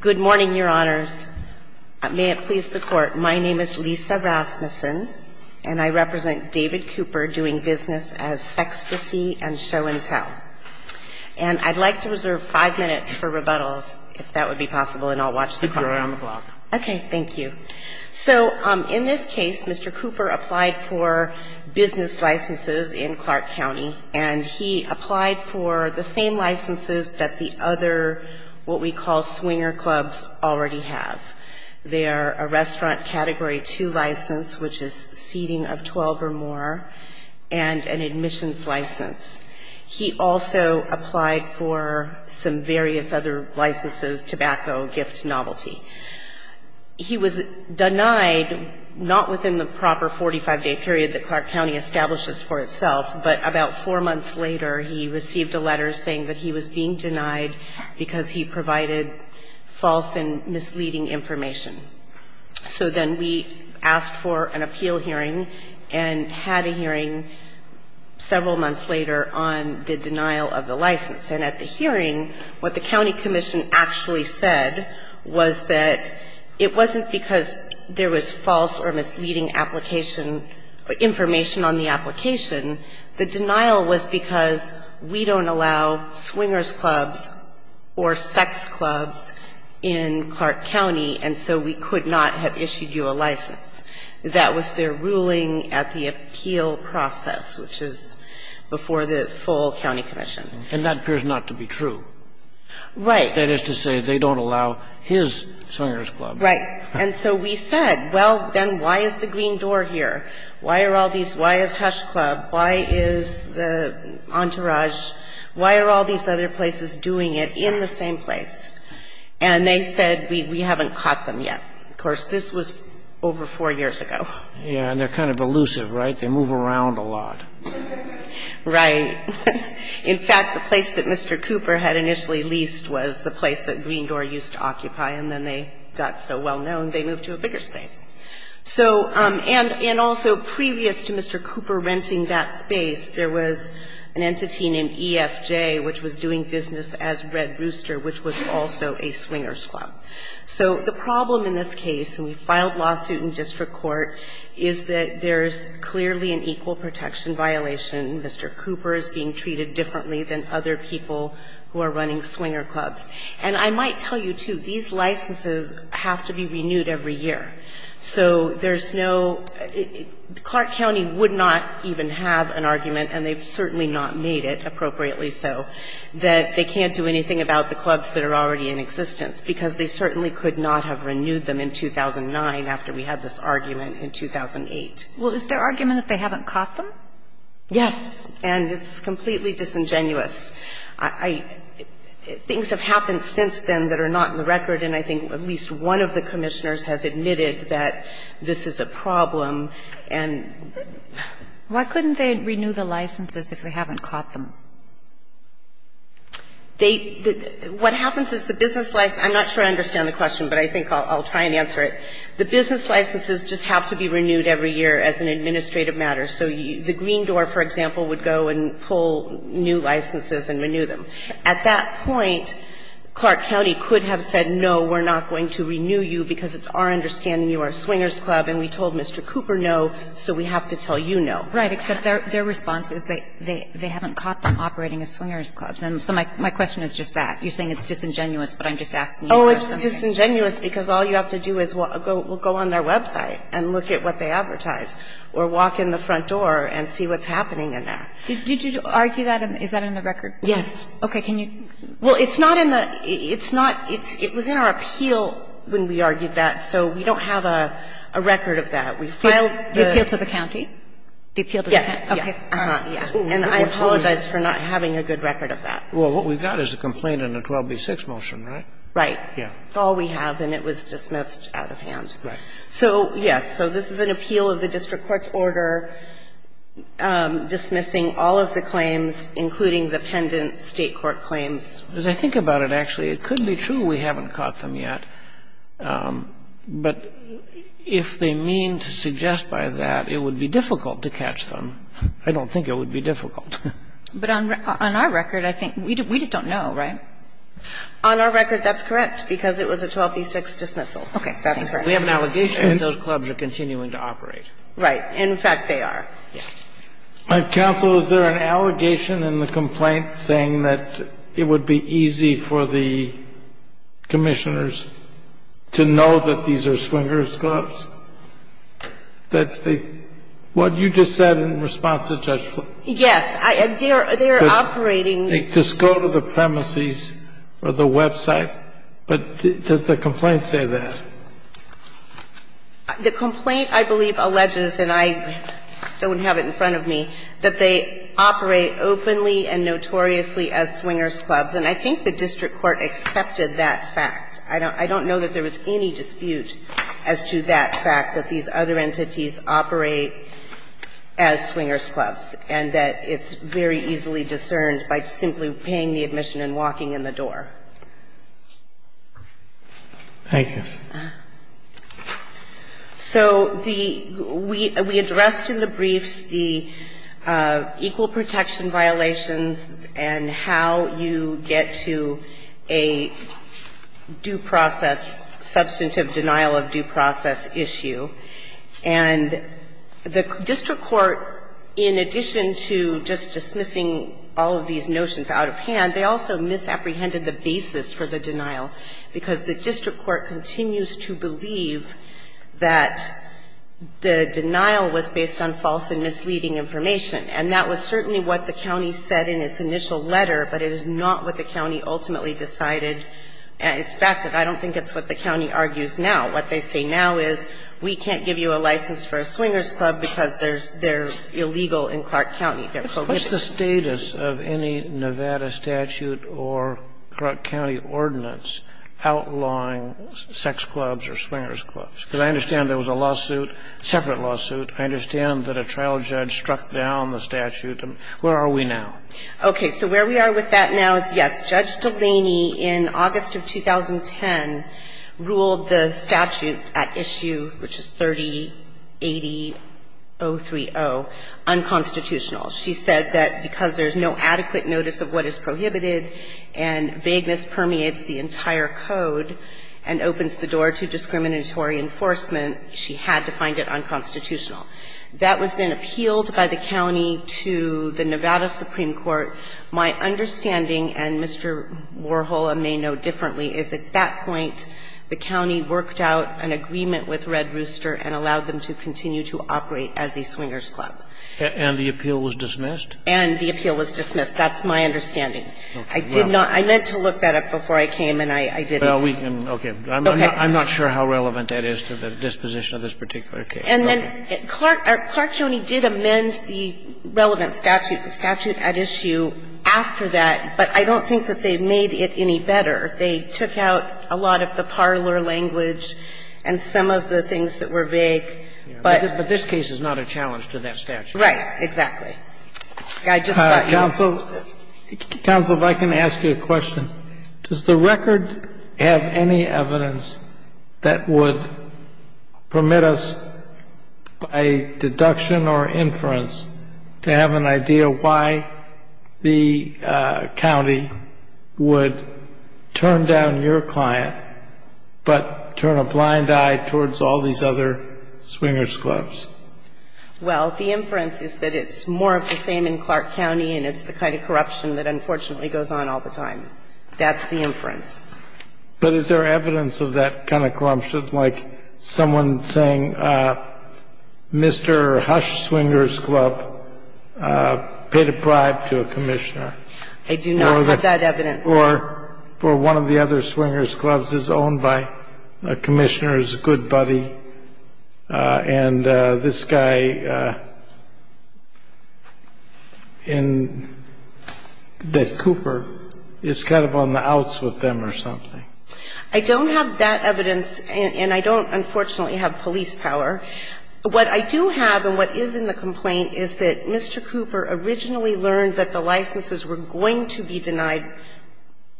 Good morning, Your Honors. May it please the Court, my name is Lisa Rasmussen, and I represent David Cooper doing business as Sextasy and Show and Tell. And I'd like to reserve five minutes for rebuttals, if that would be possible, and I'll watch the program. Okay, thank you. So, in this case, Mr. Cooper applied for business licenses in Clark County, and he applied for the same licenses that the other, what we call swinger clubs, already have. They are a restaurant Category 2 license, which is seating of 12 or more, and an admissions license. He also applied for some various other licenses, tobacco, gift, novelty. He was denied, not within the proper 45-day period that Clark County establishes for itself, but about four months later, he received a letter saying that he was being denied because he provided false and misleading information. So then we asked for an appeal hearing and had a hearing several months later on the denial of the license. And at the hearing, what the County Commission actually said was that it wasn't because there was false or misleading application, information on the application. The denial was because we don't allow swingers clubs or sex clubs in Clark County, and so we could not have issued you a license. That was their ruling at the appeal process, which is before the full County Commission. And that appears not to be true. Right. That is to say, they don't allow his swingers clubs. Right. And so we said, well, then why is the Green Door here? Why are all these, why is Hush Club, why is the Entourage, why are all these other places doing it in the same place? And they said, we haven't caught them yet. Of course, this was over four years ago. Yeah, and they're kind of elusive, right? They move around a lot. Right. In fact, the place that Mr. Cooper had initially leased was the place that Green Door used to occupy, and then they got so well-known, they moved to a bigger space. So and also previous to Mr. Cooper renting that space, there was an entity named EFJ, which was doing business as Red Rooster, which was also a swingers club. So the problem in this case, and we filed lawsuit in district court, is that there's clearly an equal protection violation. Mr. Cooper is being treated differently than other people who are running swinger clubs. And I might tell you, too, these licenses have to be renewed every year. So there's no – Clark County would not even have an argument, and they've certainly not made it, appropriately so, that they can't do anything about the clubs that are already in existence, because they certainly could not have renewed them in 2009 after we had this argument in 2008. Well, is there argument that they haven't caught them? Yes. And it's completely disingenuous. I – things have happened since then that are not in the record, and I think at least one of the commissioners has admitted that this is a problem, and – Why couldn't they renew the licenses if they haven't caught them? They – what happens is the business license – I'm not sure I understand the question, but I think I'll try and answer it. The business licenses just have to be renewed every year as an administrative matter. So the Green Door, for example, would go and pull new licenses and renew them. At that point, Clark County could have said, no, we're not going to renew you because it's our understanding you are a swingers' club, and we told Mr. Cooper no, so we have to tell you no. Right. Except their response is they haven't caught them operating as swingers' clubs. And so my question is just that. You're saying it's disingenuous, but I'm just asking you for something. It's disingenuous because all you have to do is go on their website and look at what they advertise or walk in the front door and see what's happening in there. Did you argue that? Is that in the record? Yes. Okay. Can you – Well, it's not in the – it's not – it was in our appeal when we argued that, so we don't have a record of that. We filed the – The appeal to the county? Yes. Okay. And I apologize for not having a good record of that. Well, what we've got is a complaint and a 12b-6 motion, right? Right. Yeah. It's all we have, and it was dismissed out of hand. Right. So, yes. So this is an appeal of the district court's order dismissing all of the claims, including the pendent State court claims. As I think about it, actually, it could be true we haven't caught them yet, but if they mean to suggest by that, it would be difficult to catch them. I don't think it would be difficult. But on our record, I think – we just don't know, right? On our record, that's correct, because it was a 12b-6 dismissal. Okay. That's correct. We have an allegation that those clubs are continuing to operate. Right. In fact, they are. Yeah. Counsel, is there an allegation in the complaint saying that it would be easy for the commissioners to know that these are swingers' clubs, that they – what you just said in response to Judge Flanagan. Yes. They are operating – Just go to the premises or the website, but does the complaint say that? The complaint, I believe, alleges, and I don't have it in front of me, that they operate openly and notoriously as swingers' clubs. And I think the district court accepted that fact. I don't know that there was any dispute as to that fact, that these other entities operate as swingers' clubs, and that it's very easily discerned by simply paying the admission and walking in the door. Thank you. So the – we addressed in the briefs the equal protection violations and how you get to a due process – substantive denial of due process issue. And the district court, in addition to just dismissing all of these notions out of hand, they also misapprehended the basis for the denial, because the district court continues to believe that the denial was based on false and misleading information. And that was certainly what the county said in its initial letter, but it is not what the county ultimately decided. It's fact that I don't think it's what the county argues now. What they say now is we can't give you a license for a swingers' club because they're illegal in Clark County. They're prohibited. What's the status of any Nevada statute or Clark County ordinance outlawing sex clubs or swingers' clubs? Because I understand there was a lawsuit, separate lawsuit. I understand that a trial judge struck down the statute. Where are we now? Okay. So where we are with that now is, yes, Judge Delaney in August of 2010 ruled the statute at issue, which is 3080.030, unconstitutional. She said that because there's no adequate notice of what is prohibited and vagueness permeates the entire code and opens the door to discriminatory enforcement, she had to find it unconstitutional. That was then appealed by the county to the Nevada Supreme Court. My understanding, and Mr. Warhola may know differently, is at that point the county worked out an agreement with Red Rooster and allowed them to continue to operate as a swingers' club. And the appeal was dismissed? And the appeal was dismissed. That's my understanding. I did not – I meant to look that up before I came and I didn't. Okay. I'm not sure how relevant that is to the disposition of this particular case. And then Clark County did amend the relevant statute, the statute at issue, after that, but I don't think that they made it any better. They took out a lot of the parlor language and some of the things that were vague, but – But this case is not a challenge to that statute. Right. Exactly. I just thought you would – Counsel, if I can ask you a question. Does the record have any evidence that would permit us by deduction or inference to have an idea why the county would turn down your client but turn a blind eye towards all these other swingers' clubs? Well, the inference is that it's more of the same in Clark County and it's the kind of corruption that unfortunately goes on all the time. That's the inference. But is there evidence of that kind of corruption? be some evidence that perhaps the record motioned, like someone saying Mr. Husch Swinger's Club paid a bribe to a commissioner. I do not have that evidence. I don't have that evidence, and I don't, unfortunately, have police power. What I do have and what is in the complaint is that Mr. Cooper originally learned that the licenses were going to be denied for the purposes of a bribe, and he had to I don't have that evidence. congratulations. is a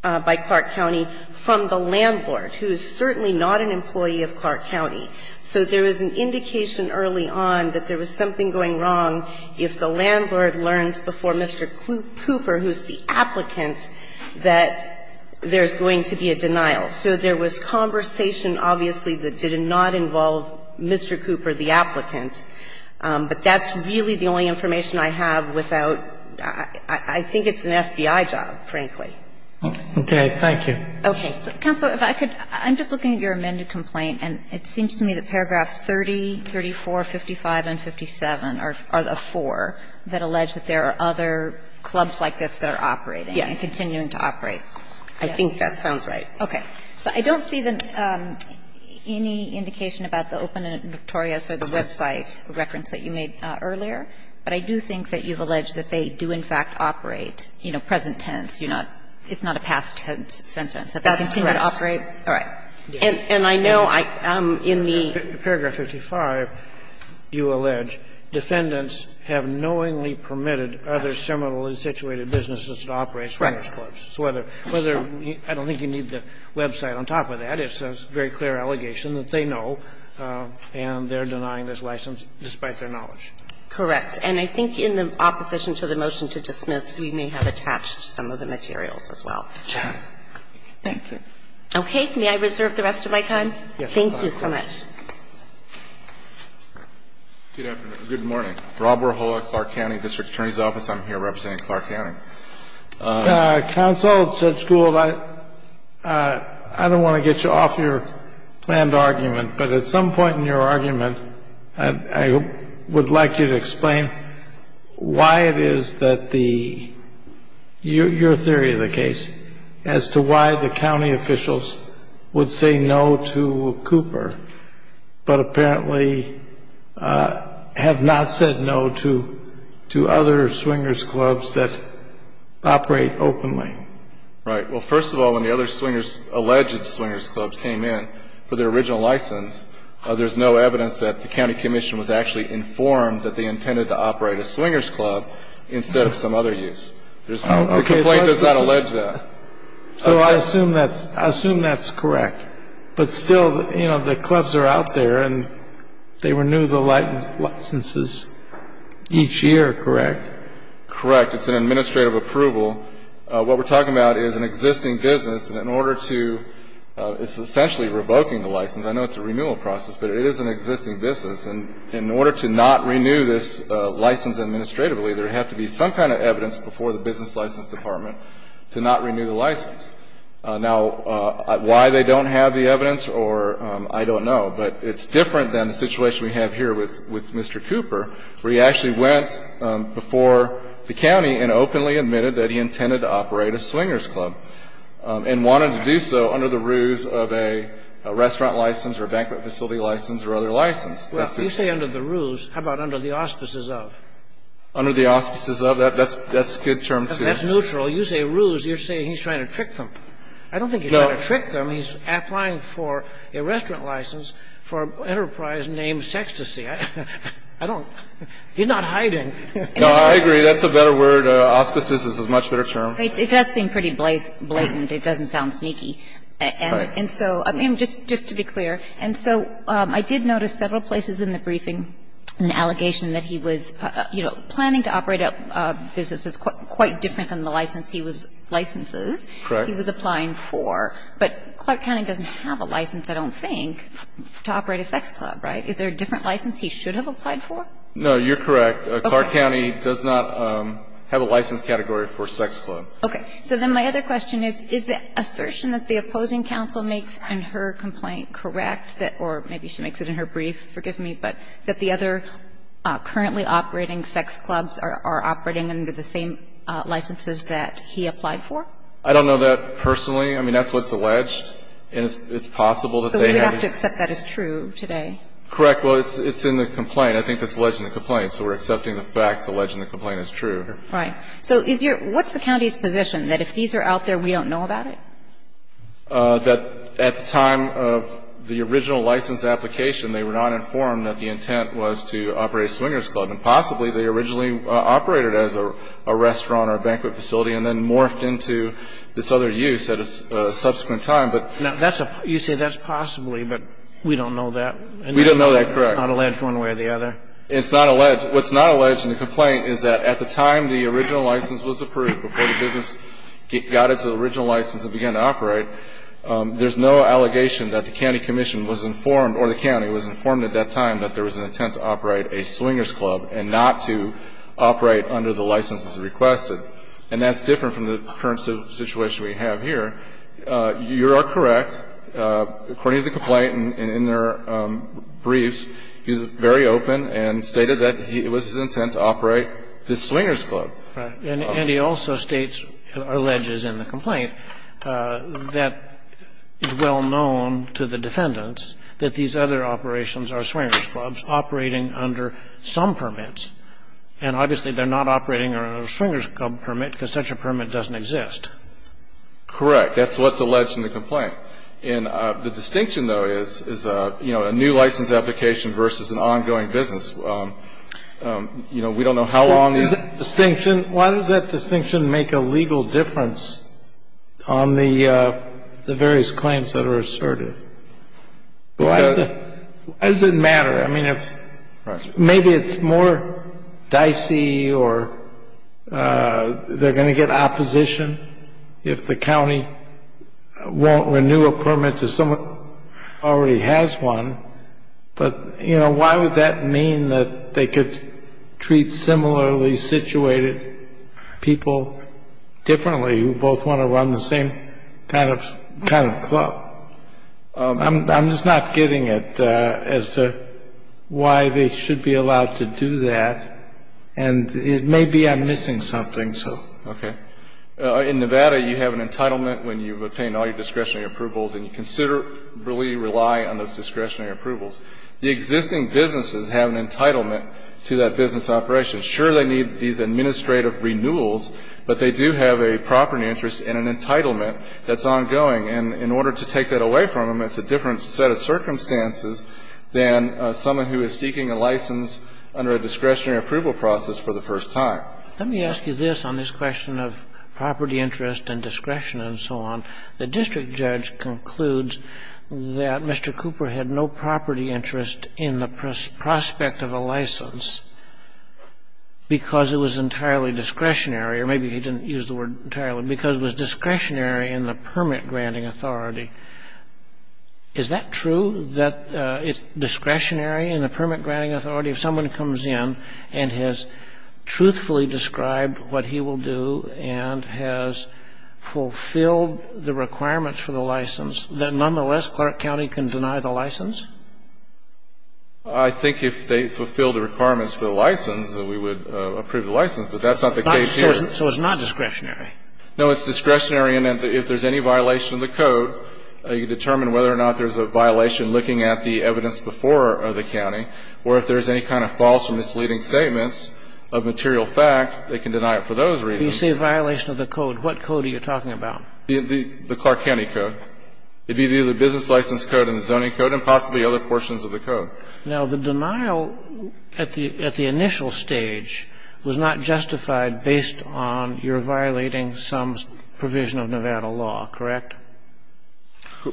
candidate by Clark County from the landlord, who is certainly not an employee of Clark County. So there was an indication early on that there was something going wrong if the landlord learns before Mr. Cooper, who's the applicant, that there's going to be a denial. So there was conversation, obviously, that did not involve Mr. Cooper, the applicant. But that's really the only information I have without – I think it's an FBI job, frankly. Okay. Thank you. Okay. Counsel, if I could, I'm just looking at your amended complaint, and it seems to me that paragraphs 30, 34, 55, and 57 are the four that allege that there are other clubs like this that are operating and continuing to operate. I think that sounds right. Okay. So I don't see any indication about the Open and Notorious or the website reference that you made earlier, but I do think that you've alleged that they do, in fact, operate, you know, present tense. It's not a past tense sentence, that they continue to operate. That's correct. All right. And I know in the – Paragraph 55, you allege defendants have knowingly permitted other terminally situated businesses to operate Swearer's Clubs. So whether – I don't think you need the website on top of that. It's a very clear allegation that they know, and they're denying this license despite their knowledge. Correct. And I think in the opposition to the motion to dismiss, we may have attached some of the materials as well. Thank you. Okay. May I reserve the rest of my time? Yes. Thank you so much. Good afternoon. Good morning. Rob Warhoa, Clark County District Attorney's Office. I'm here representing Clark County. Counsel, Judge Gould, I don't want to get you off your planned argument, but at some point in your argument, I would like you to explain why it is that the – your theory of the case as to why the county officials would say no to Cooper, but apparently have not said no to other Swinger's Clubs that operate openly. Right. Well, first of all, when the other Swinger's – alleged Swinger's Clubs came in for their original license, there's no evidence that the county commission was actually informed that they intended to operate a Swinger's Club instead of some other use. There's no – the complaint does not allege that. So I assume that's – I assume that's correct. But still, you know, the clubs are out there and they renew the licenses each year, correct? Correct. It's an administrative approval. What we're talking about is an existing business. And in order to – it's essentially revoking the license. I know it's a renewal process, but it is an existing business. And in order to not renew this license administratively, there would have to be some kind of evidence before the business license department to not renew the license. Now, why they don't have the evidence or – I don't know. But it's different than the situation we have here with Mr. Cooper, where he actually went before the county and openly admitted that he intended to operate a Swinger's Club and wanted to do so under the ruse of a restaurant license or a banquet facility license or other license. That's it. Well, you say under the ruse. How about under the auspices of? Under the auspices of. That's a good term to use. That's neutral. Well, you say ruse. You're saying he's trying to trick them. I don't think he's trying to trick them. He's applying for a restaurant license for an enterprise named Sextasy. I don't – he's not hiding. No, I agree. That's a better word. Auspices is a much better term. It does seem pretty blatant. It doesn't sound sneaky. And so – I mean, just to be clear. And so I did notice several places in the briefing an allegation that he was, you know, quite different than the license he was – licenses he was applying for. But Clark County doesn't have a license, I don't think, to operate a sex club, right? Is there a different license he should have applied for? No, you're correct. Clark County does not have a license category for a sex club. Okay. So then my other question is, is the assertion that the opposing counsel makes in her complaint correct, or maybe she makes it in her brief, forgive me, but that the other currently operating sex clubs are operating under the same licenses that he applied for? I don't know that personally. I mean, that's what's alleged. And it's possible that they have a – But we would have to accept that as true today. Correct. Well, it's in the complaint. I think that's alleged in the complaint. So we're accepting the facts alleged in the complaint as true. Right. So is your – what's the county's position, that if these are out there, we don't know about it? That at the time of the original license application, they were not informed that the intent was to operate a swingers' club. And possibly, they originally operated as a restaurant or a banquet facility, and then morphed into this other use at a subsequent time. But – Now, that's a – you say that's possibly, but we don't know that. We don't know that. Correct. It's not alleged one way or the other. It's not alleged. What's not alleged in the complaint is that at the time the original license was approved, before the business got its original license and began to operate, there's no allegation that the county commission was informed – or the county was informed at that time that there was an intent to operate a swingers' club and not to operate under the licenses requested. And that's different from the current situation we have here. You are correct. According to the complaint and in their briefs, he was very open and stated that it was his intent to operate this swingers' club. Right. And he also states, or alleges in the complaint, that it's well known to the defendants that these other operations are swingers' clubs operating under some permits. And obviously, they're not operating under a swingers' club permit because such a permit doesn't exist. Correct. That's what's alleged in the complaint. And the distinction, though, is, you know, a new license application versus an ongoing You know, we don't know how long these are. Distinction? Why does that distinction make a legal difference on the various claims that are asserted? Why does it matter? I mean, if maybe it's more dicey or they're going to get opposition if the county won't renew a permit to someone who already has one. But, you know, why would that mean that they could treat similarly situated people differently who both want to run the same kind of club? I'm just not getting it as to why they should be allowed to do that. And it may be I'm missing something. So. Okay. In Nevada, you have an entitlement when you obtain all your discretionary approvals and you considerably rely on those discretionary approvals. The existing businesses have an entitlement to that business operation. Sure, they need these administrative renewals, but they do have a property interest and an entitlement that's ongoing. And in order to take that away from them, it's a different set of circumstances than someone who is seeking a license under a discretionary approval process for the first time. Let me ask you this on this question of property interest and discretion and so on. The district judge concludes that Mr. Cooper had no property interest in the prospect of a license because it was entirely discretionary. Or maybe he didn't use the word entirely. Because it was discretionary in the permit-granting authority. Is that true that it's discretionary in the permit-granting authority if someone comes in and has truthfully described what he will do and has fulfilled the requirements for the license, that nonetheless, Clark County can deny the license? I think if they fulfilled the requirements for the license, then we would approve the license, but that's not the case here. So it's not discretionary? No, it's discretionary. And if there's any violation of the code, you determine whether or not there's a violation looking at the evidence before the county, or if there's any kind of false or misleading statements of material fact, they can deny it for those reasons. You say violation of the code. What code are you talking about? The Clark County code. It would be the business license code and the zoning code and possibly other portions of the code. Now, the denial at the initial stage was not justified based on your violating some provision of Nevada law, correct?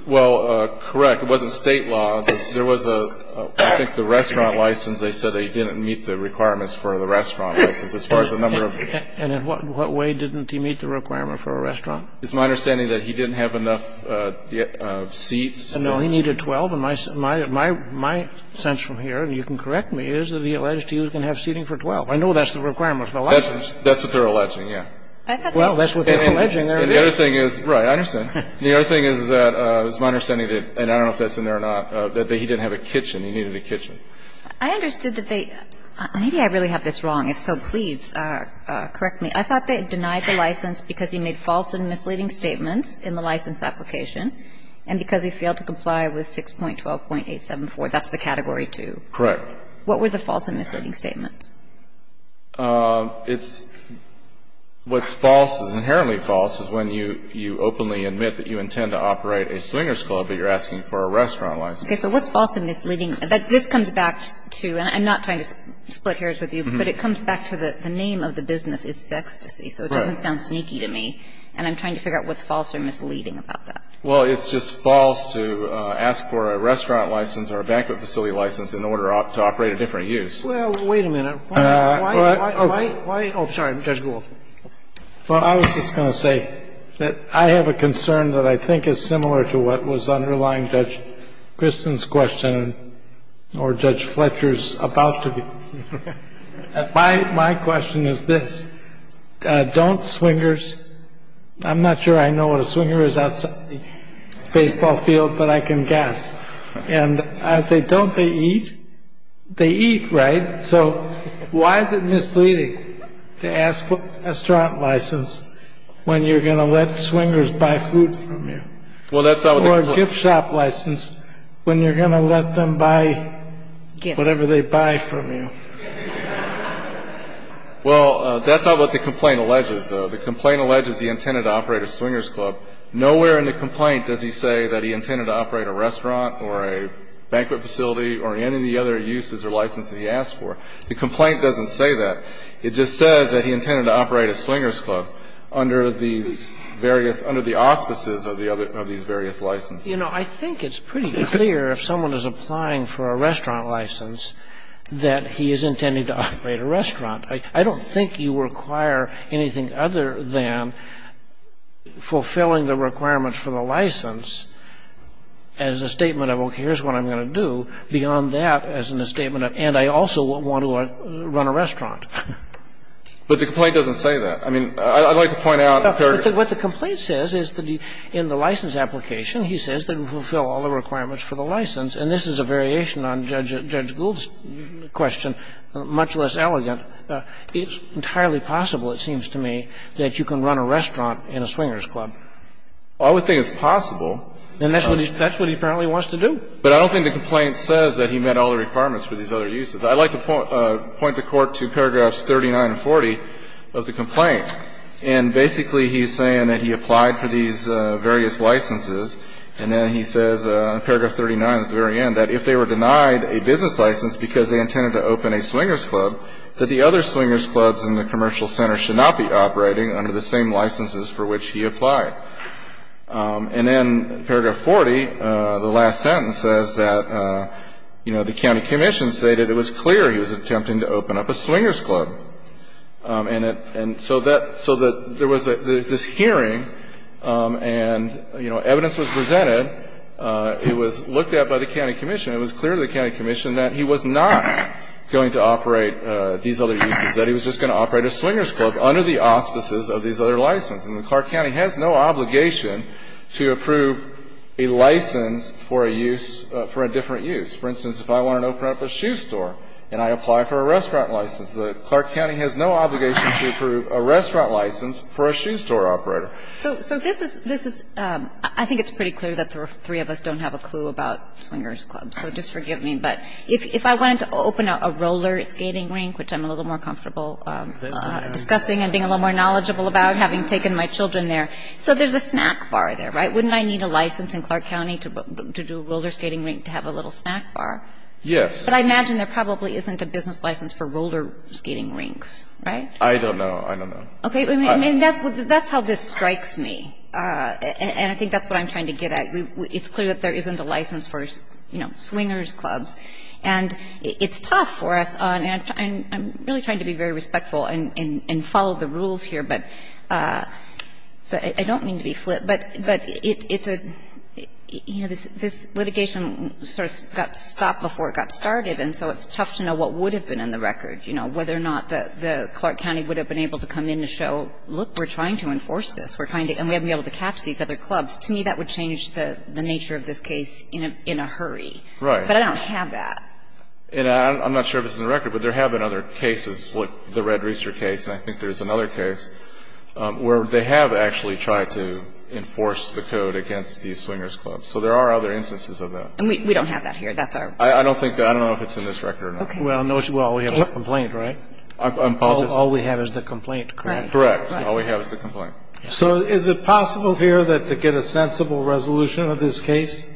Well, correct. It wasn't State law. There was a, I think, the restaurant license. They said they didn't meet the requirements for the restaurant license as far as the number of. And in what way didn't he meet the requirement for a restaurant? It's my understanding that he didn't have enough seats. No, he needed 12. And my sense from here, and you can correct me, is that he alleged he was going to have seating for 12. I know that's the requirement for the license. That's what they're alleging, yes. Well, that's what they're alleging. And the other thing is, right, I understand. The other thing is that it's my understanding that, and I don't know if that's in there or not, that he didn't have a kitchen. He needed a kitchen. I understood that they – maybe I really have this wrong. If so, please correct me. I thought they denied the license because he made false and misleading statements in the license application and because he failed to comply with 6.12.874. That's the Category 2. Correct. What were the false and misleading statements? It's – what's false is inherently false is when you openly admit that you intend to operate a swingers' club, but you're asking for a restaurant license. Okay, so what's false and misleading – this comes back to – and I'm not trying to split hairs with you, but it comes back to the name of the business is Sextasy, so it doesn't sound sneaky to me. And I'm trying to figure out what's false or misleading about that. Well, it's just false to ask for a restaurant license or a banquet facility license in order to operate a different use. Well, wait a minute. Why – why – oh, sorry, Judge Gould. Well, I was just going to say that I have a concern that I think is similar to what was underlying Judge Kristin's question or Judge Fletcher's about to be. My – my question is this. Don't swingers – I'm not sure I know what a swinger is outside the baseball field, but I can guess. And I would say, don't they eat? They eat, right? So why is it misleading to ask for a restaurant license when you're going to let swingers buy food from you? Well, that's not what – Or a gift shop license when you're going to let them buy whatever they buy from you. Well, that's not what the complaint alleges, though. The complaint alleges he intended to operate a swingers club. Nowhere in the complaint does he say that he intended to operate a restaurant or a banquet facility or any of the other uses or licenses that he asked for. The complaint doesn't say that. It just says that he intended to operate a swingers club under these various – It doesn't say that he intended to operate a restaurant or a banquet facility or any of the other uses or licenses that he asked for. You know, I think it's pretty clear if someone is applying for a restaurant license that he is intending to operate a restaurant. I don't think you require anything other than fulfilling the requirements for the license as a statement of, okay, here's what I'm going to do, beyond that as in a statement of, and I also want to run a restaurant. But the complaint doesn't say that. I mean, I'd like to point out – No, but what the complaint says is that in the license application, he says that he will fulfill all the requirements for the license. And this is a variation on Judge Gould's question, much less elegant. It's entirely possible, it seems to me, that you can run a restaurant in a swingers club. Well, I would think it's possible. And that's what he apparently wants to do. But I don't think the complaint says that he met all the requirements for these other uses. I'd like to point the Court to paragraphs 39 and 40 of the complaint. And basically he's saying that he applied for these various licenses, and then he says, paragraph 39 at the very end, that if they were denied a business license because they intended to open a swingers club, that the other swingers clubs in the commercial center should not be operating under the same licenses for which he applied. And then paragraph 40, the last sentence, says that, you know, the county commission stated it was clear he was attempting to open up a swingers club. And so that – so there was this hearing, and, you know, evidence was presented. It was looked at by the county commission. It was clear to the county commission that he was not going to operate these other uses, that he was just going to operate a swingers club under the auspices of these other licenses. And the Clark County has no obligation to approve a license for a use – for a different use. For instance, if I want to open up a shoe store and I apply for a restaurant license, the Clark County has no obligation to approve a restaurant license for a shoe store operator. So this is – I think it's pretty clear that the three of us don't have a clue about swingers clubs. So just forgive me. But if I wanted to open up a roller skating rink, which I'm a little more comfortable discussing and being a little more knowledgeable about, having taken my children there. So there's a snack bar there, right? Wouldn't I need a license in Clark County to do a roller skating rink to have a little snack bar? Yes. But I imagine there probably isn't a business license for roller skating rinks, right? I don't know. I don't know. Okay. I mean, that's how this strikes me. And I think that's what I'm trying to get at. It's clear that there isn't a license for, you know, swingers clubs. And it's tough for us. And I'm really trying to be very respectful and follow the rules here. But I don't mean to be flip. But it's a – you know, this litigation sort of got stopped before it got started. And so it's tough to know what would have been in the record, you know, whether or not the Clark County would have been able to come in to show, look, we're trying to enforce this. We're trying to – and we haven't been able to catch these other clubs. To me, that would change the nature of this case in a hurry. Right. But I don't have that. And I'm not sure if it's in the record. But there have been other cases, like the Red Reester case. And I think there's another case where they have actually tried to enforce the code against these swingers clubs. So there are other instances of that. And we don't have that here. That's our – I don't think – I don't know if it's in this record or not. Okay. Well, all we have is the complaint, right? I'm apologizing. All we have is the complaint, correct? Correct. All we have is the complaint. So is it possible here that to get a sensible resolution of this case,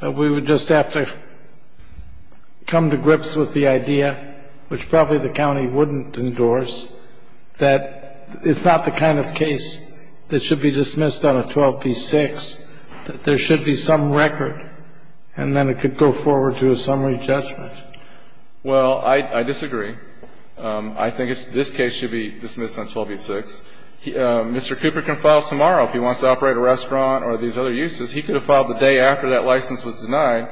we would just have to come to grips with the idea, which probably the county wouldn't endorse, that it's not the kind of case that should be dismissed on a 12b-6, that there should be some record, and then it could go forward to a summary judgment? Well, I disagree. I think this case should be dismissed on 12b-6. Mr. Cooper can file tomorrow if he wants to operate a restaurant or these other uses. He could have filed the day after that license was denied.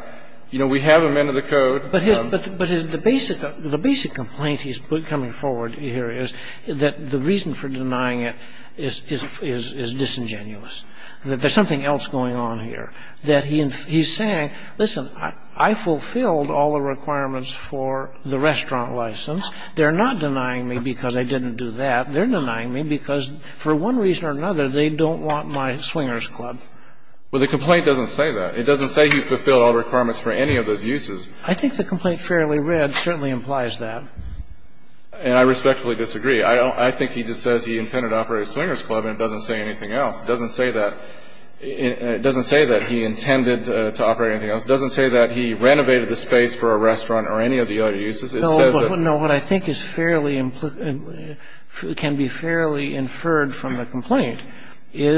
You know, we have him under the code. But his – but the basic complaint he's coming forward here is that the reason for denying it is disingenuous, that there's something else going on here, that he's saying, listen, I fulfilled all the requirements for the restaurant license. They're not denying me because I didn't do that. They're denying me because, for one reason or another, they don't want my swingers club. Well, the complaint doesn't say that. It doesn't say he fulfilled all the requirements for any of those uses. I think the complaint fairly read certainly implies that. And I respectfully disagree. I think he just says he intended to operate a swingers club, and it doesn't say anything else. It doesn't say that he intended to operate anything else. It doesn't say that he renovated the space for a restaurant or any of the other uses. It says that he didn't do that. Now,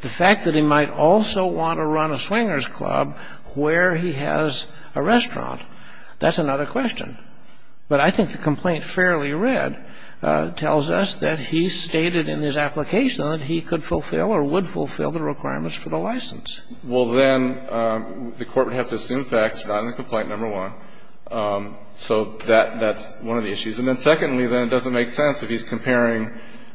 the fact that he might also want to run a swingers club where he has a restaurant, that's another question, but I think the complaint fairly read tells us that he stated in his application that he could fulfill or would fulfill the requirements for the license. Well, then, the court would have to assume facts, not in the complaint, number one. So that's one of the issues. And then secondly, then, it doesn't make sense if he's comparing,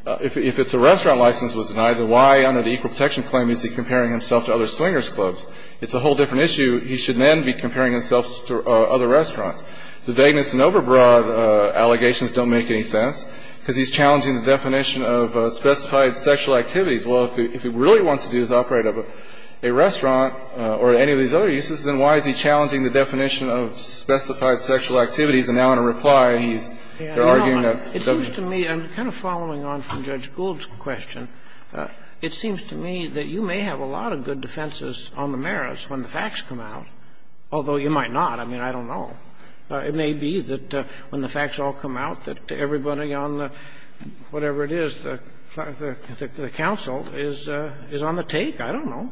if it's a restaurant license was denied, then why under the equal protection claim is he comparing himself to other swingers clubs? It's a whole different issue. He should then be comparing himself to other restaurants. The vagueness and overbroad allegations don't make any sense because he's challenging the definition of specified sexual activities. Well, if he really wants to do is operate a restaurant or any of these other uses, then why is he challenging the definition of specified sexual activities? And now, in a reply, he's, they're arguing that the other uses don't make any sense. I'm kind of following on from Judge Gould's question. It seems to me that you may have a lot of good defenses on the merits when the facts come out, although you might not. I mean, I don't know. It may be that when the facts all come out, that everybody on the, whatever it is, the counsel is on the take. I don't know.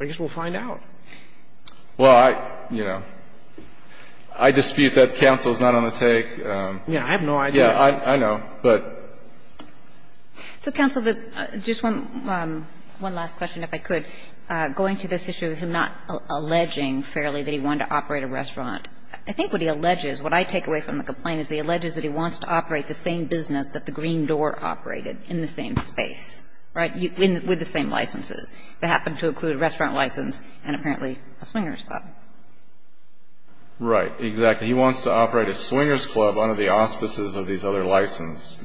I guess we'll find out. Well, I, you know, I dispute that counsel is not on the take. Yeah, I have no idea. Yeah, I know, but. So, counsel, just one last question, if I could. Going to this issue of him not alleging fairly that he wanted to operate a restaurant, I think what he alleges, what I take away from the complaint is he alleges that he wants to operate the same business that the Green Door operated in the same space, right, with the same licenses. That happened to include a restaurant license and apparently a swingers' club. Right, exactly. He wants to operate a swingers' club under the auspices of these other licenses.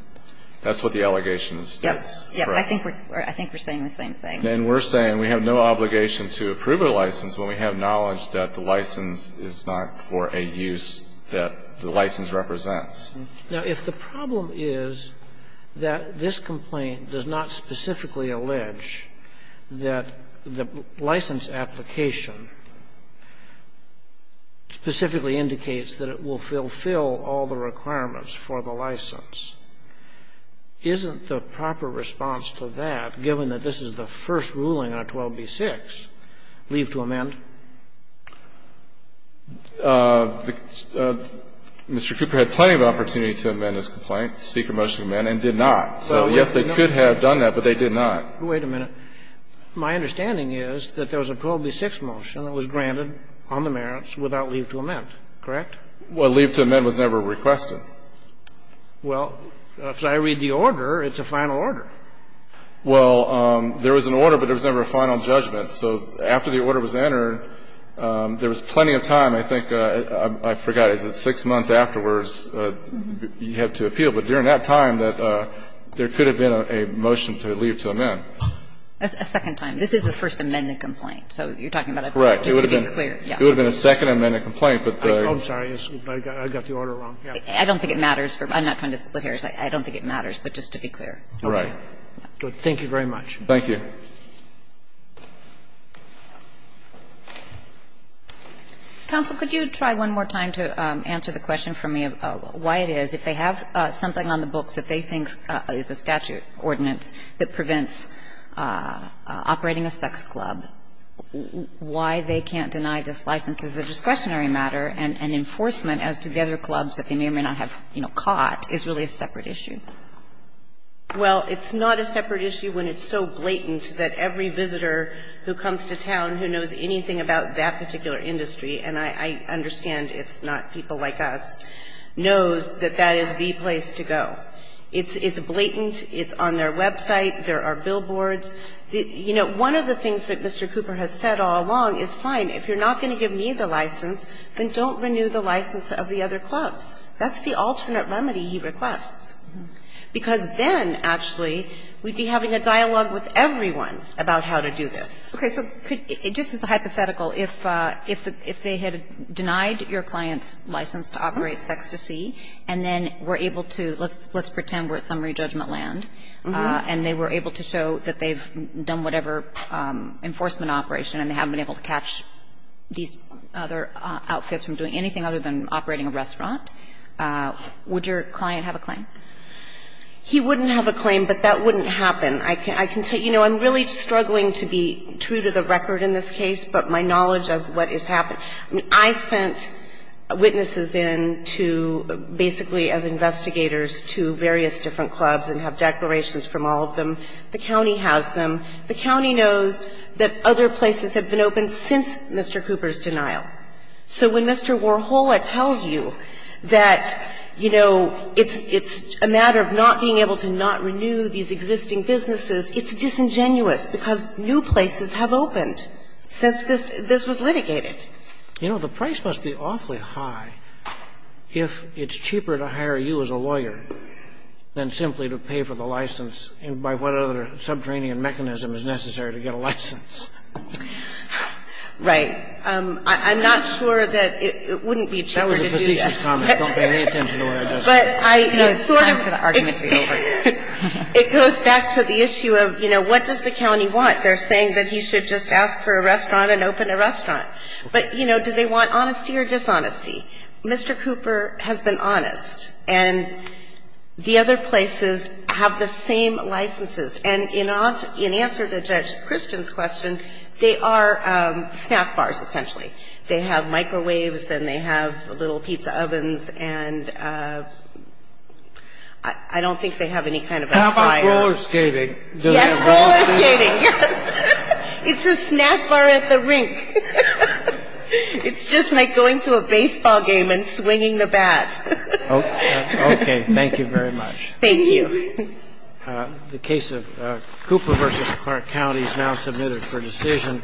That's what the allegation states, correct? Yes. I think we're saying the same thing. And we're saying we have no obligation to approve a license when we have knowledge that the license is not for a use that the license represents. Now, if the problem is that this complaint does not specifically allege that the license application specifically indicates that it will fulfill all the requirements for the license, isn't the proper response to that, given that this is the first ruling on 12b-6, leave to amend? Mr. Cooper had plenty of opportunity to amend this complaint, seek a motion to amend, and did not. So, yes, they could have done that, but they did not. Wait a minute. My understanding is that there was a 12b-6 motion that was granted on the merits without leave to amend, correct? Well, leave to amend was never requested. Well, if I read the order, it's a final order. Well, there was an order, but there was never a final judgment. So after the order was entered, there was plenty of time. I think, I forgot, is it six months afterwards, you had to appeal. But during that time, there could have been a motion to leave to amend. A second time. This is a First Amendment complaint. So you're talking about a third, just to be clear. Correct. It would have been a Second Amendment complaint, but the order was wrong. I don't think it matters. I'm not trying to split hairs. I don't think it matters, but just to be clear. Right. Thank you very much. Thank you. Counsel, could you try one more time to answer the question for me of why it is, if they have something on the books that they think is a statute ordinance that prevents operating a sex club, why they can't deny this license as a discretionary matter and enforcement as to the other clubs that they may or may not have, you know, caught is really a separate issue? Well, it's not a separate issue when it's so blatant that every visitor who comes to town who knows anything about that particular industry, and I understand it's not people like us, knows that that is the place to go. It's blatant. It's on their website. There are billboards. You know, one of the things that Mr. Cooper has said all along is, fine, if you're not going to give me the license, then don't renew the license of the other clubs. That's the alternate remedy he requests. Because then, actually, we'd be having a dialogue with everyone about how to do this. Okay. So could you just as a hypothetical, if they had denied your client's license to operate Sex2See, and then were able to, let's pretend we're at summary judgment land, and they were able to show that they've done whatever enforcement operation and they haven't been able to catch these other outfits from doing anything other than operating a restaurant, would your client have a claim? He wouldn't have a claim, but that wouldn't happen. I can tell you, you know, I'm really struggling to be true to the record in this case, but my knowledge of what has happened. I mean, I sent witnesses in to basically as investigators to various different clubs and have declarations from all of them. The county has them. The county knows that other places have been open since Mr. Cooper's denial. So when Mr. Warhola tells you that, you know, it's a matter of not being able to not renew these existing businesses, it's disingenuous because new places have opened since this was litigated. You know, the price must be awfully high if it's cheaper to hire you as a lawyer than simply to pay for the license by what other subterranean mechanism is necessary to get a license. Right. I'm not sure that it wouldn't be cheaper to do that. That was a facetious comment. Don't pay any attention to what I just said. But I sort of It's time for the argument to be over. It goes back to the issue of, you know, what does the county want? They're saying that he should just ask for a restaurant and open a restaurant. But, you know, do they want honesty or dishonesty? Mr. Cooper has been honest, and the other places have the same licenses. And in answer to Judge Christian's question, they are snack bars, essentially. They have microwaves and they have little pizza ovens, and I don't think they have any kind of a fire. How about roller skating? Yes, roller skating, yes. It's a snack bar at the rink. It's just like going to a baseball game and swinging the bat. Okay. Thank you very much. Thank you. The case of Cooper v. Clark County is now submitted for decision.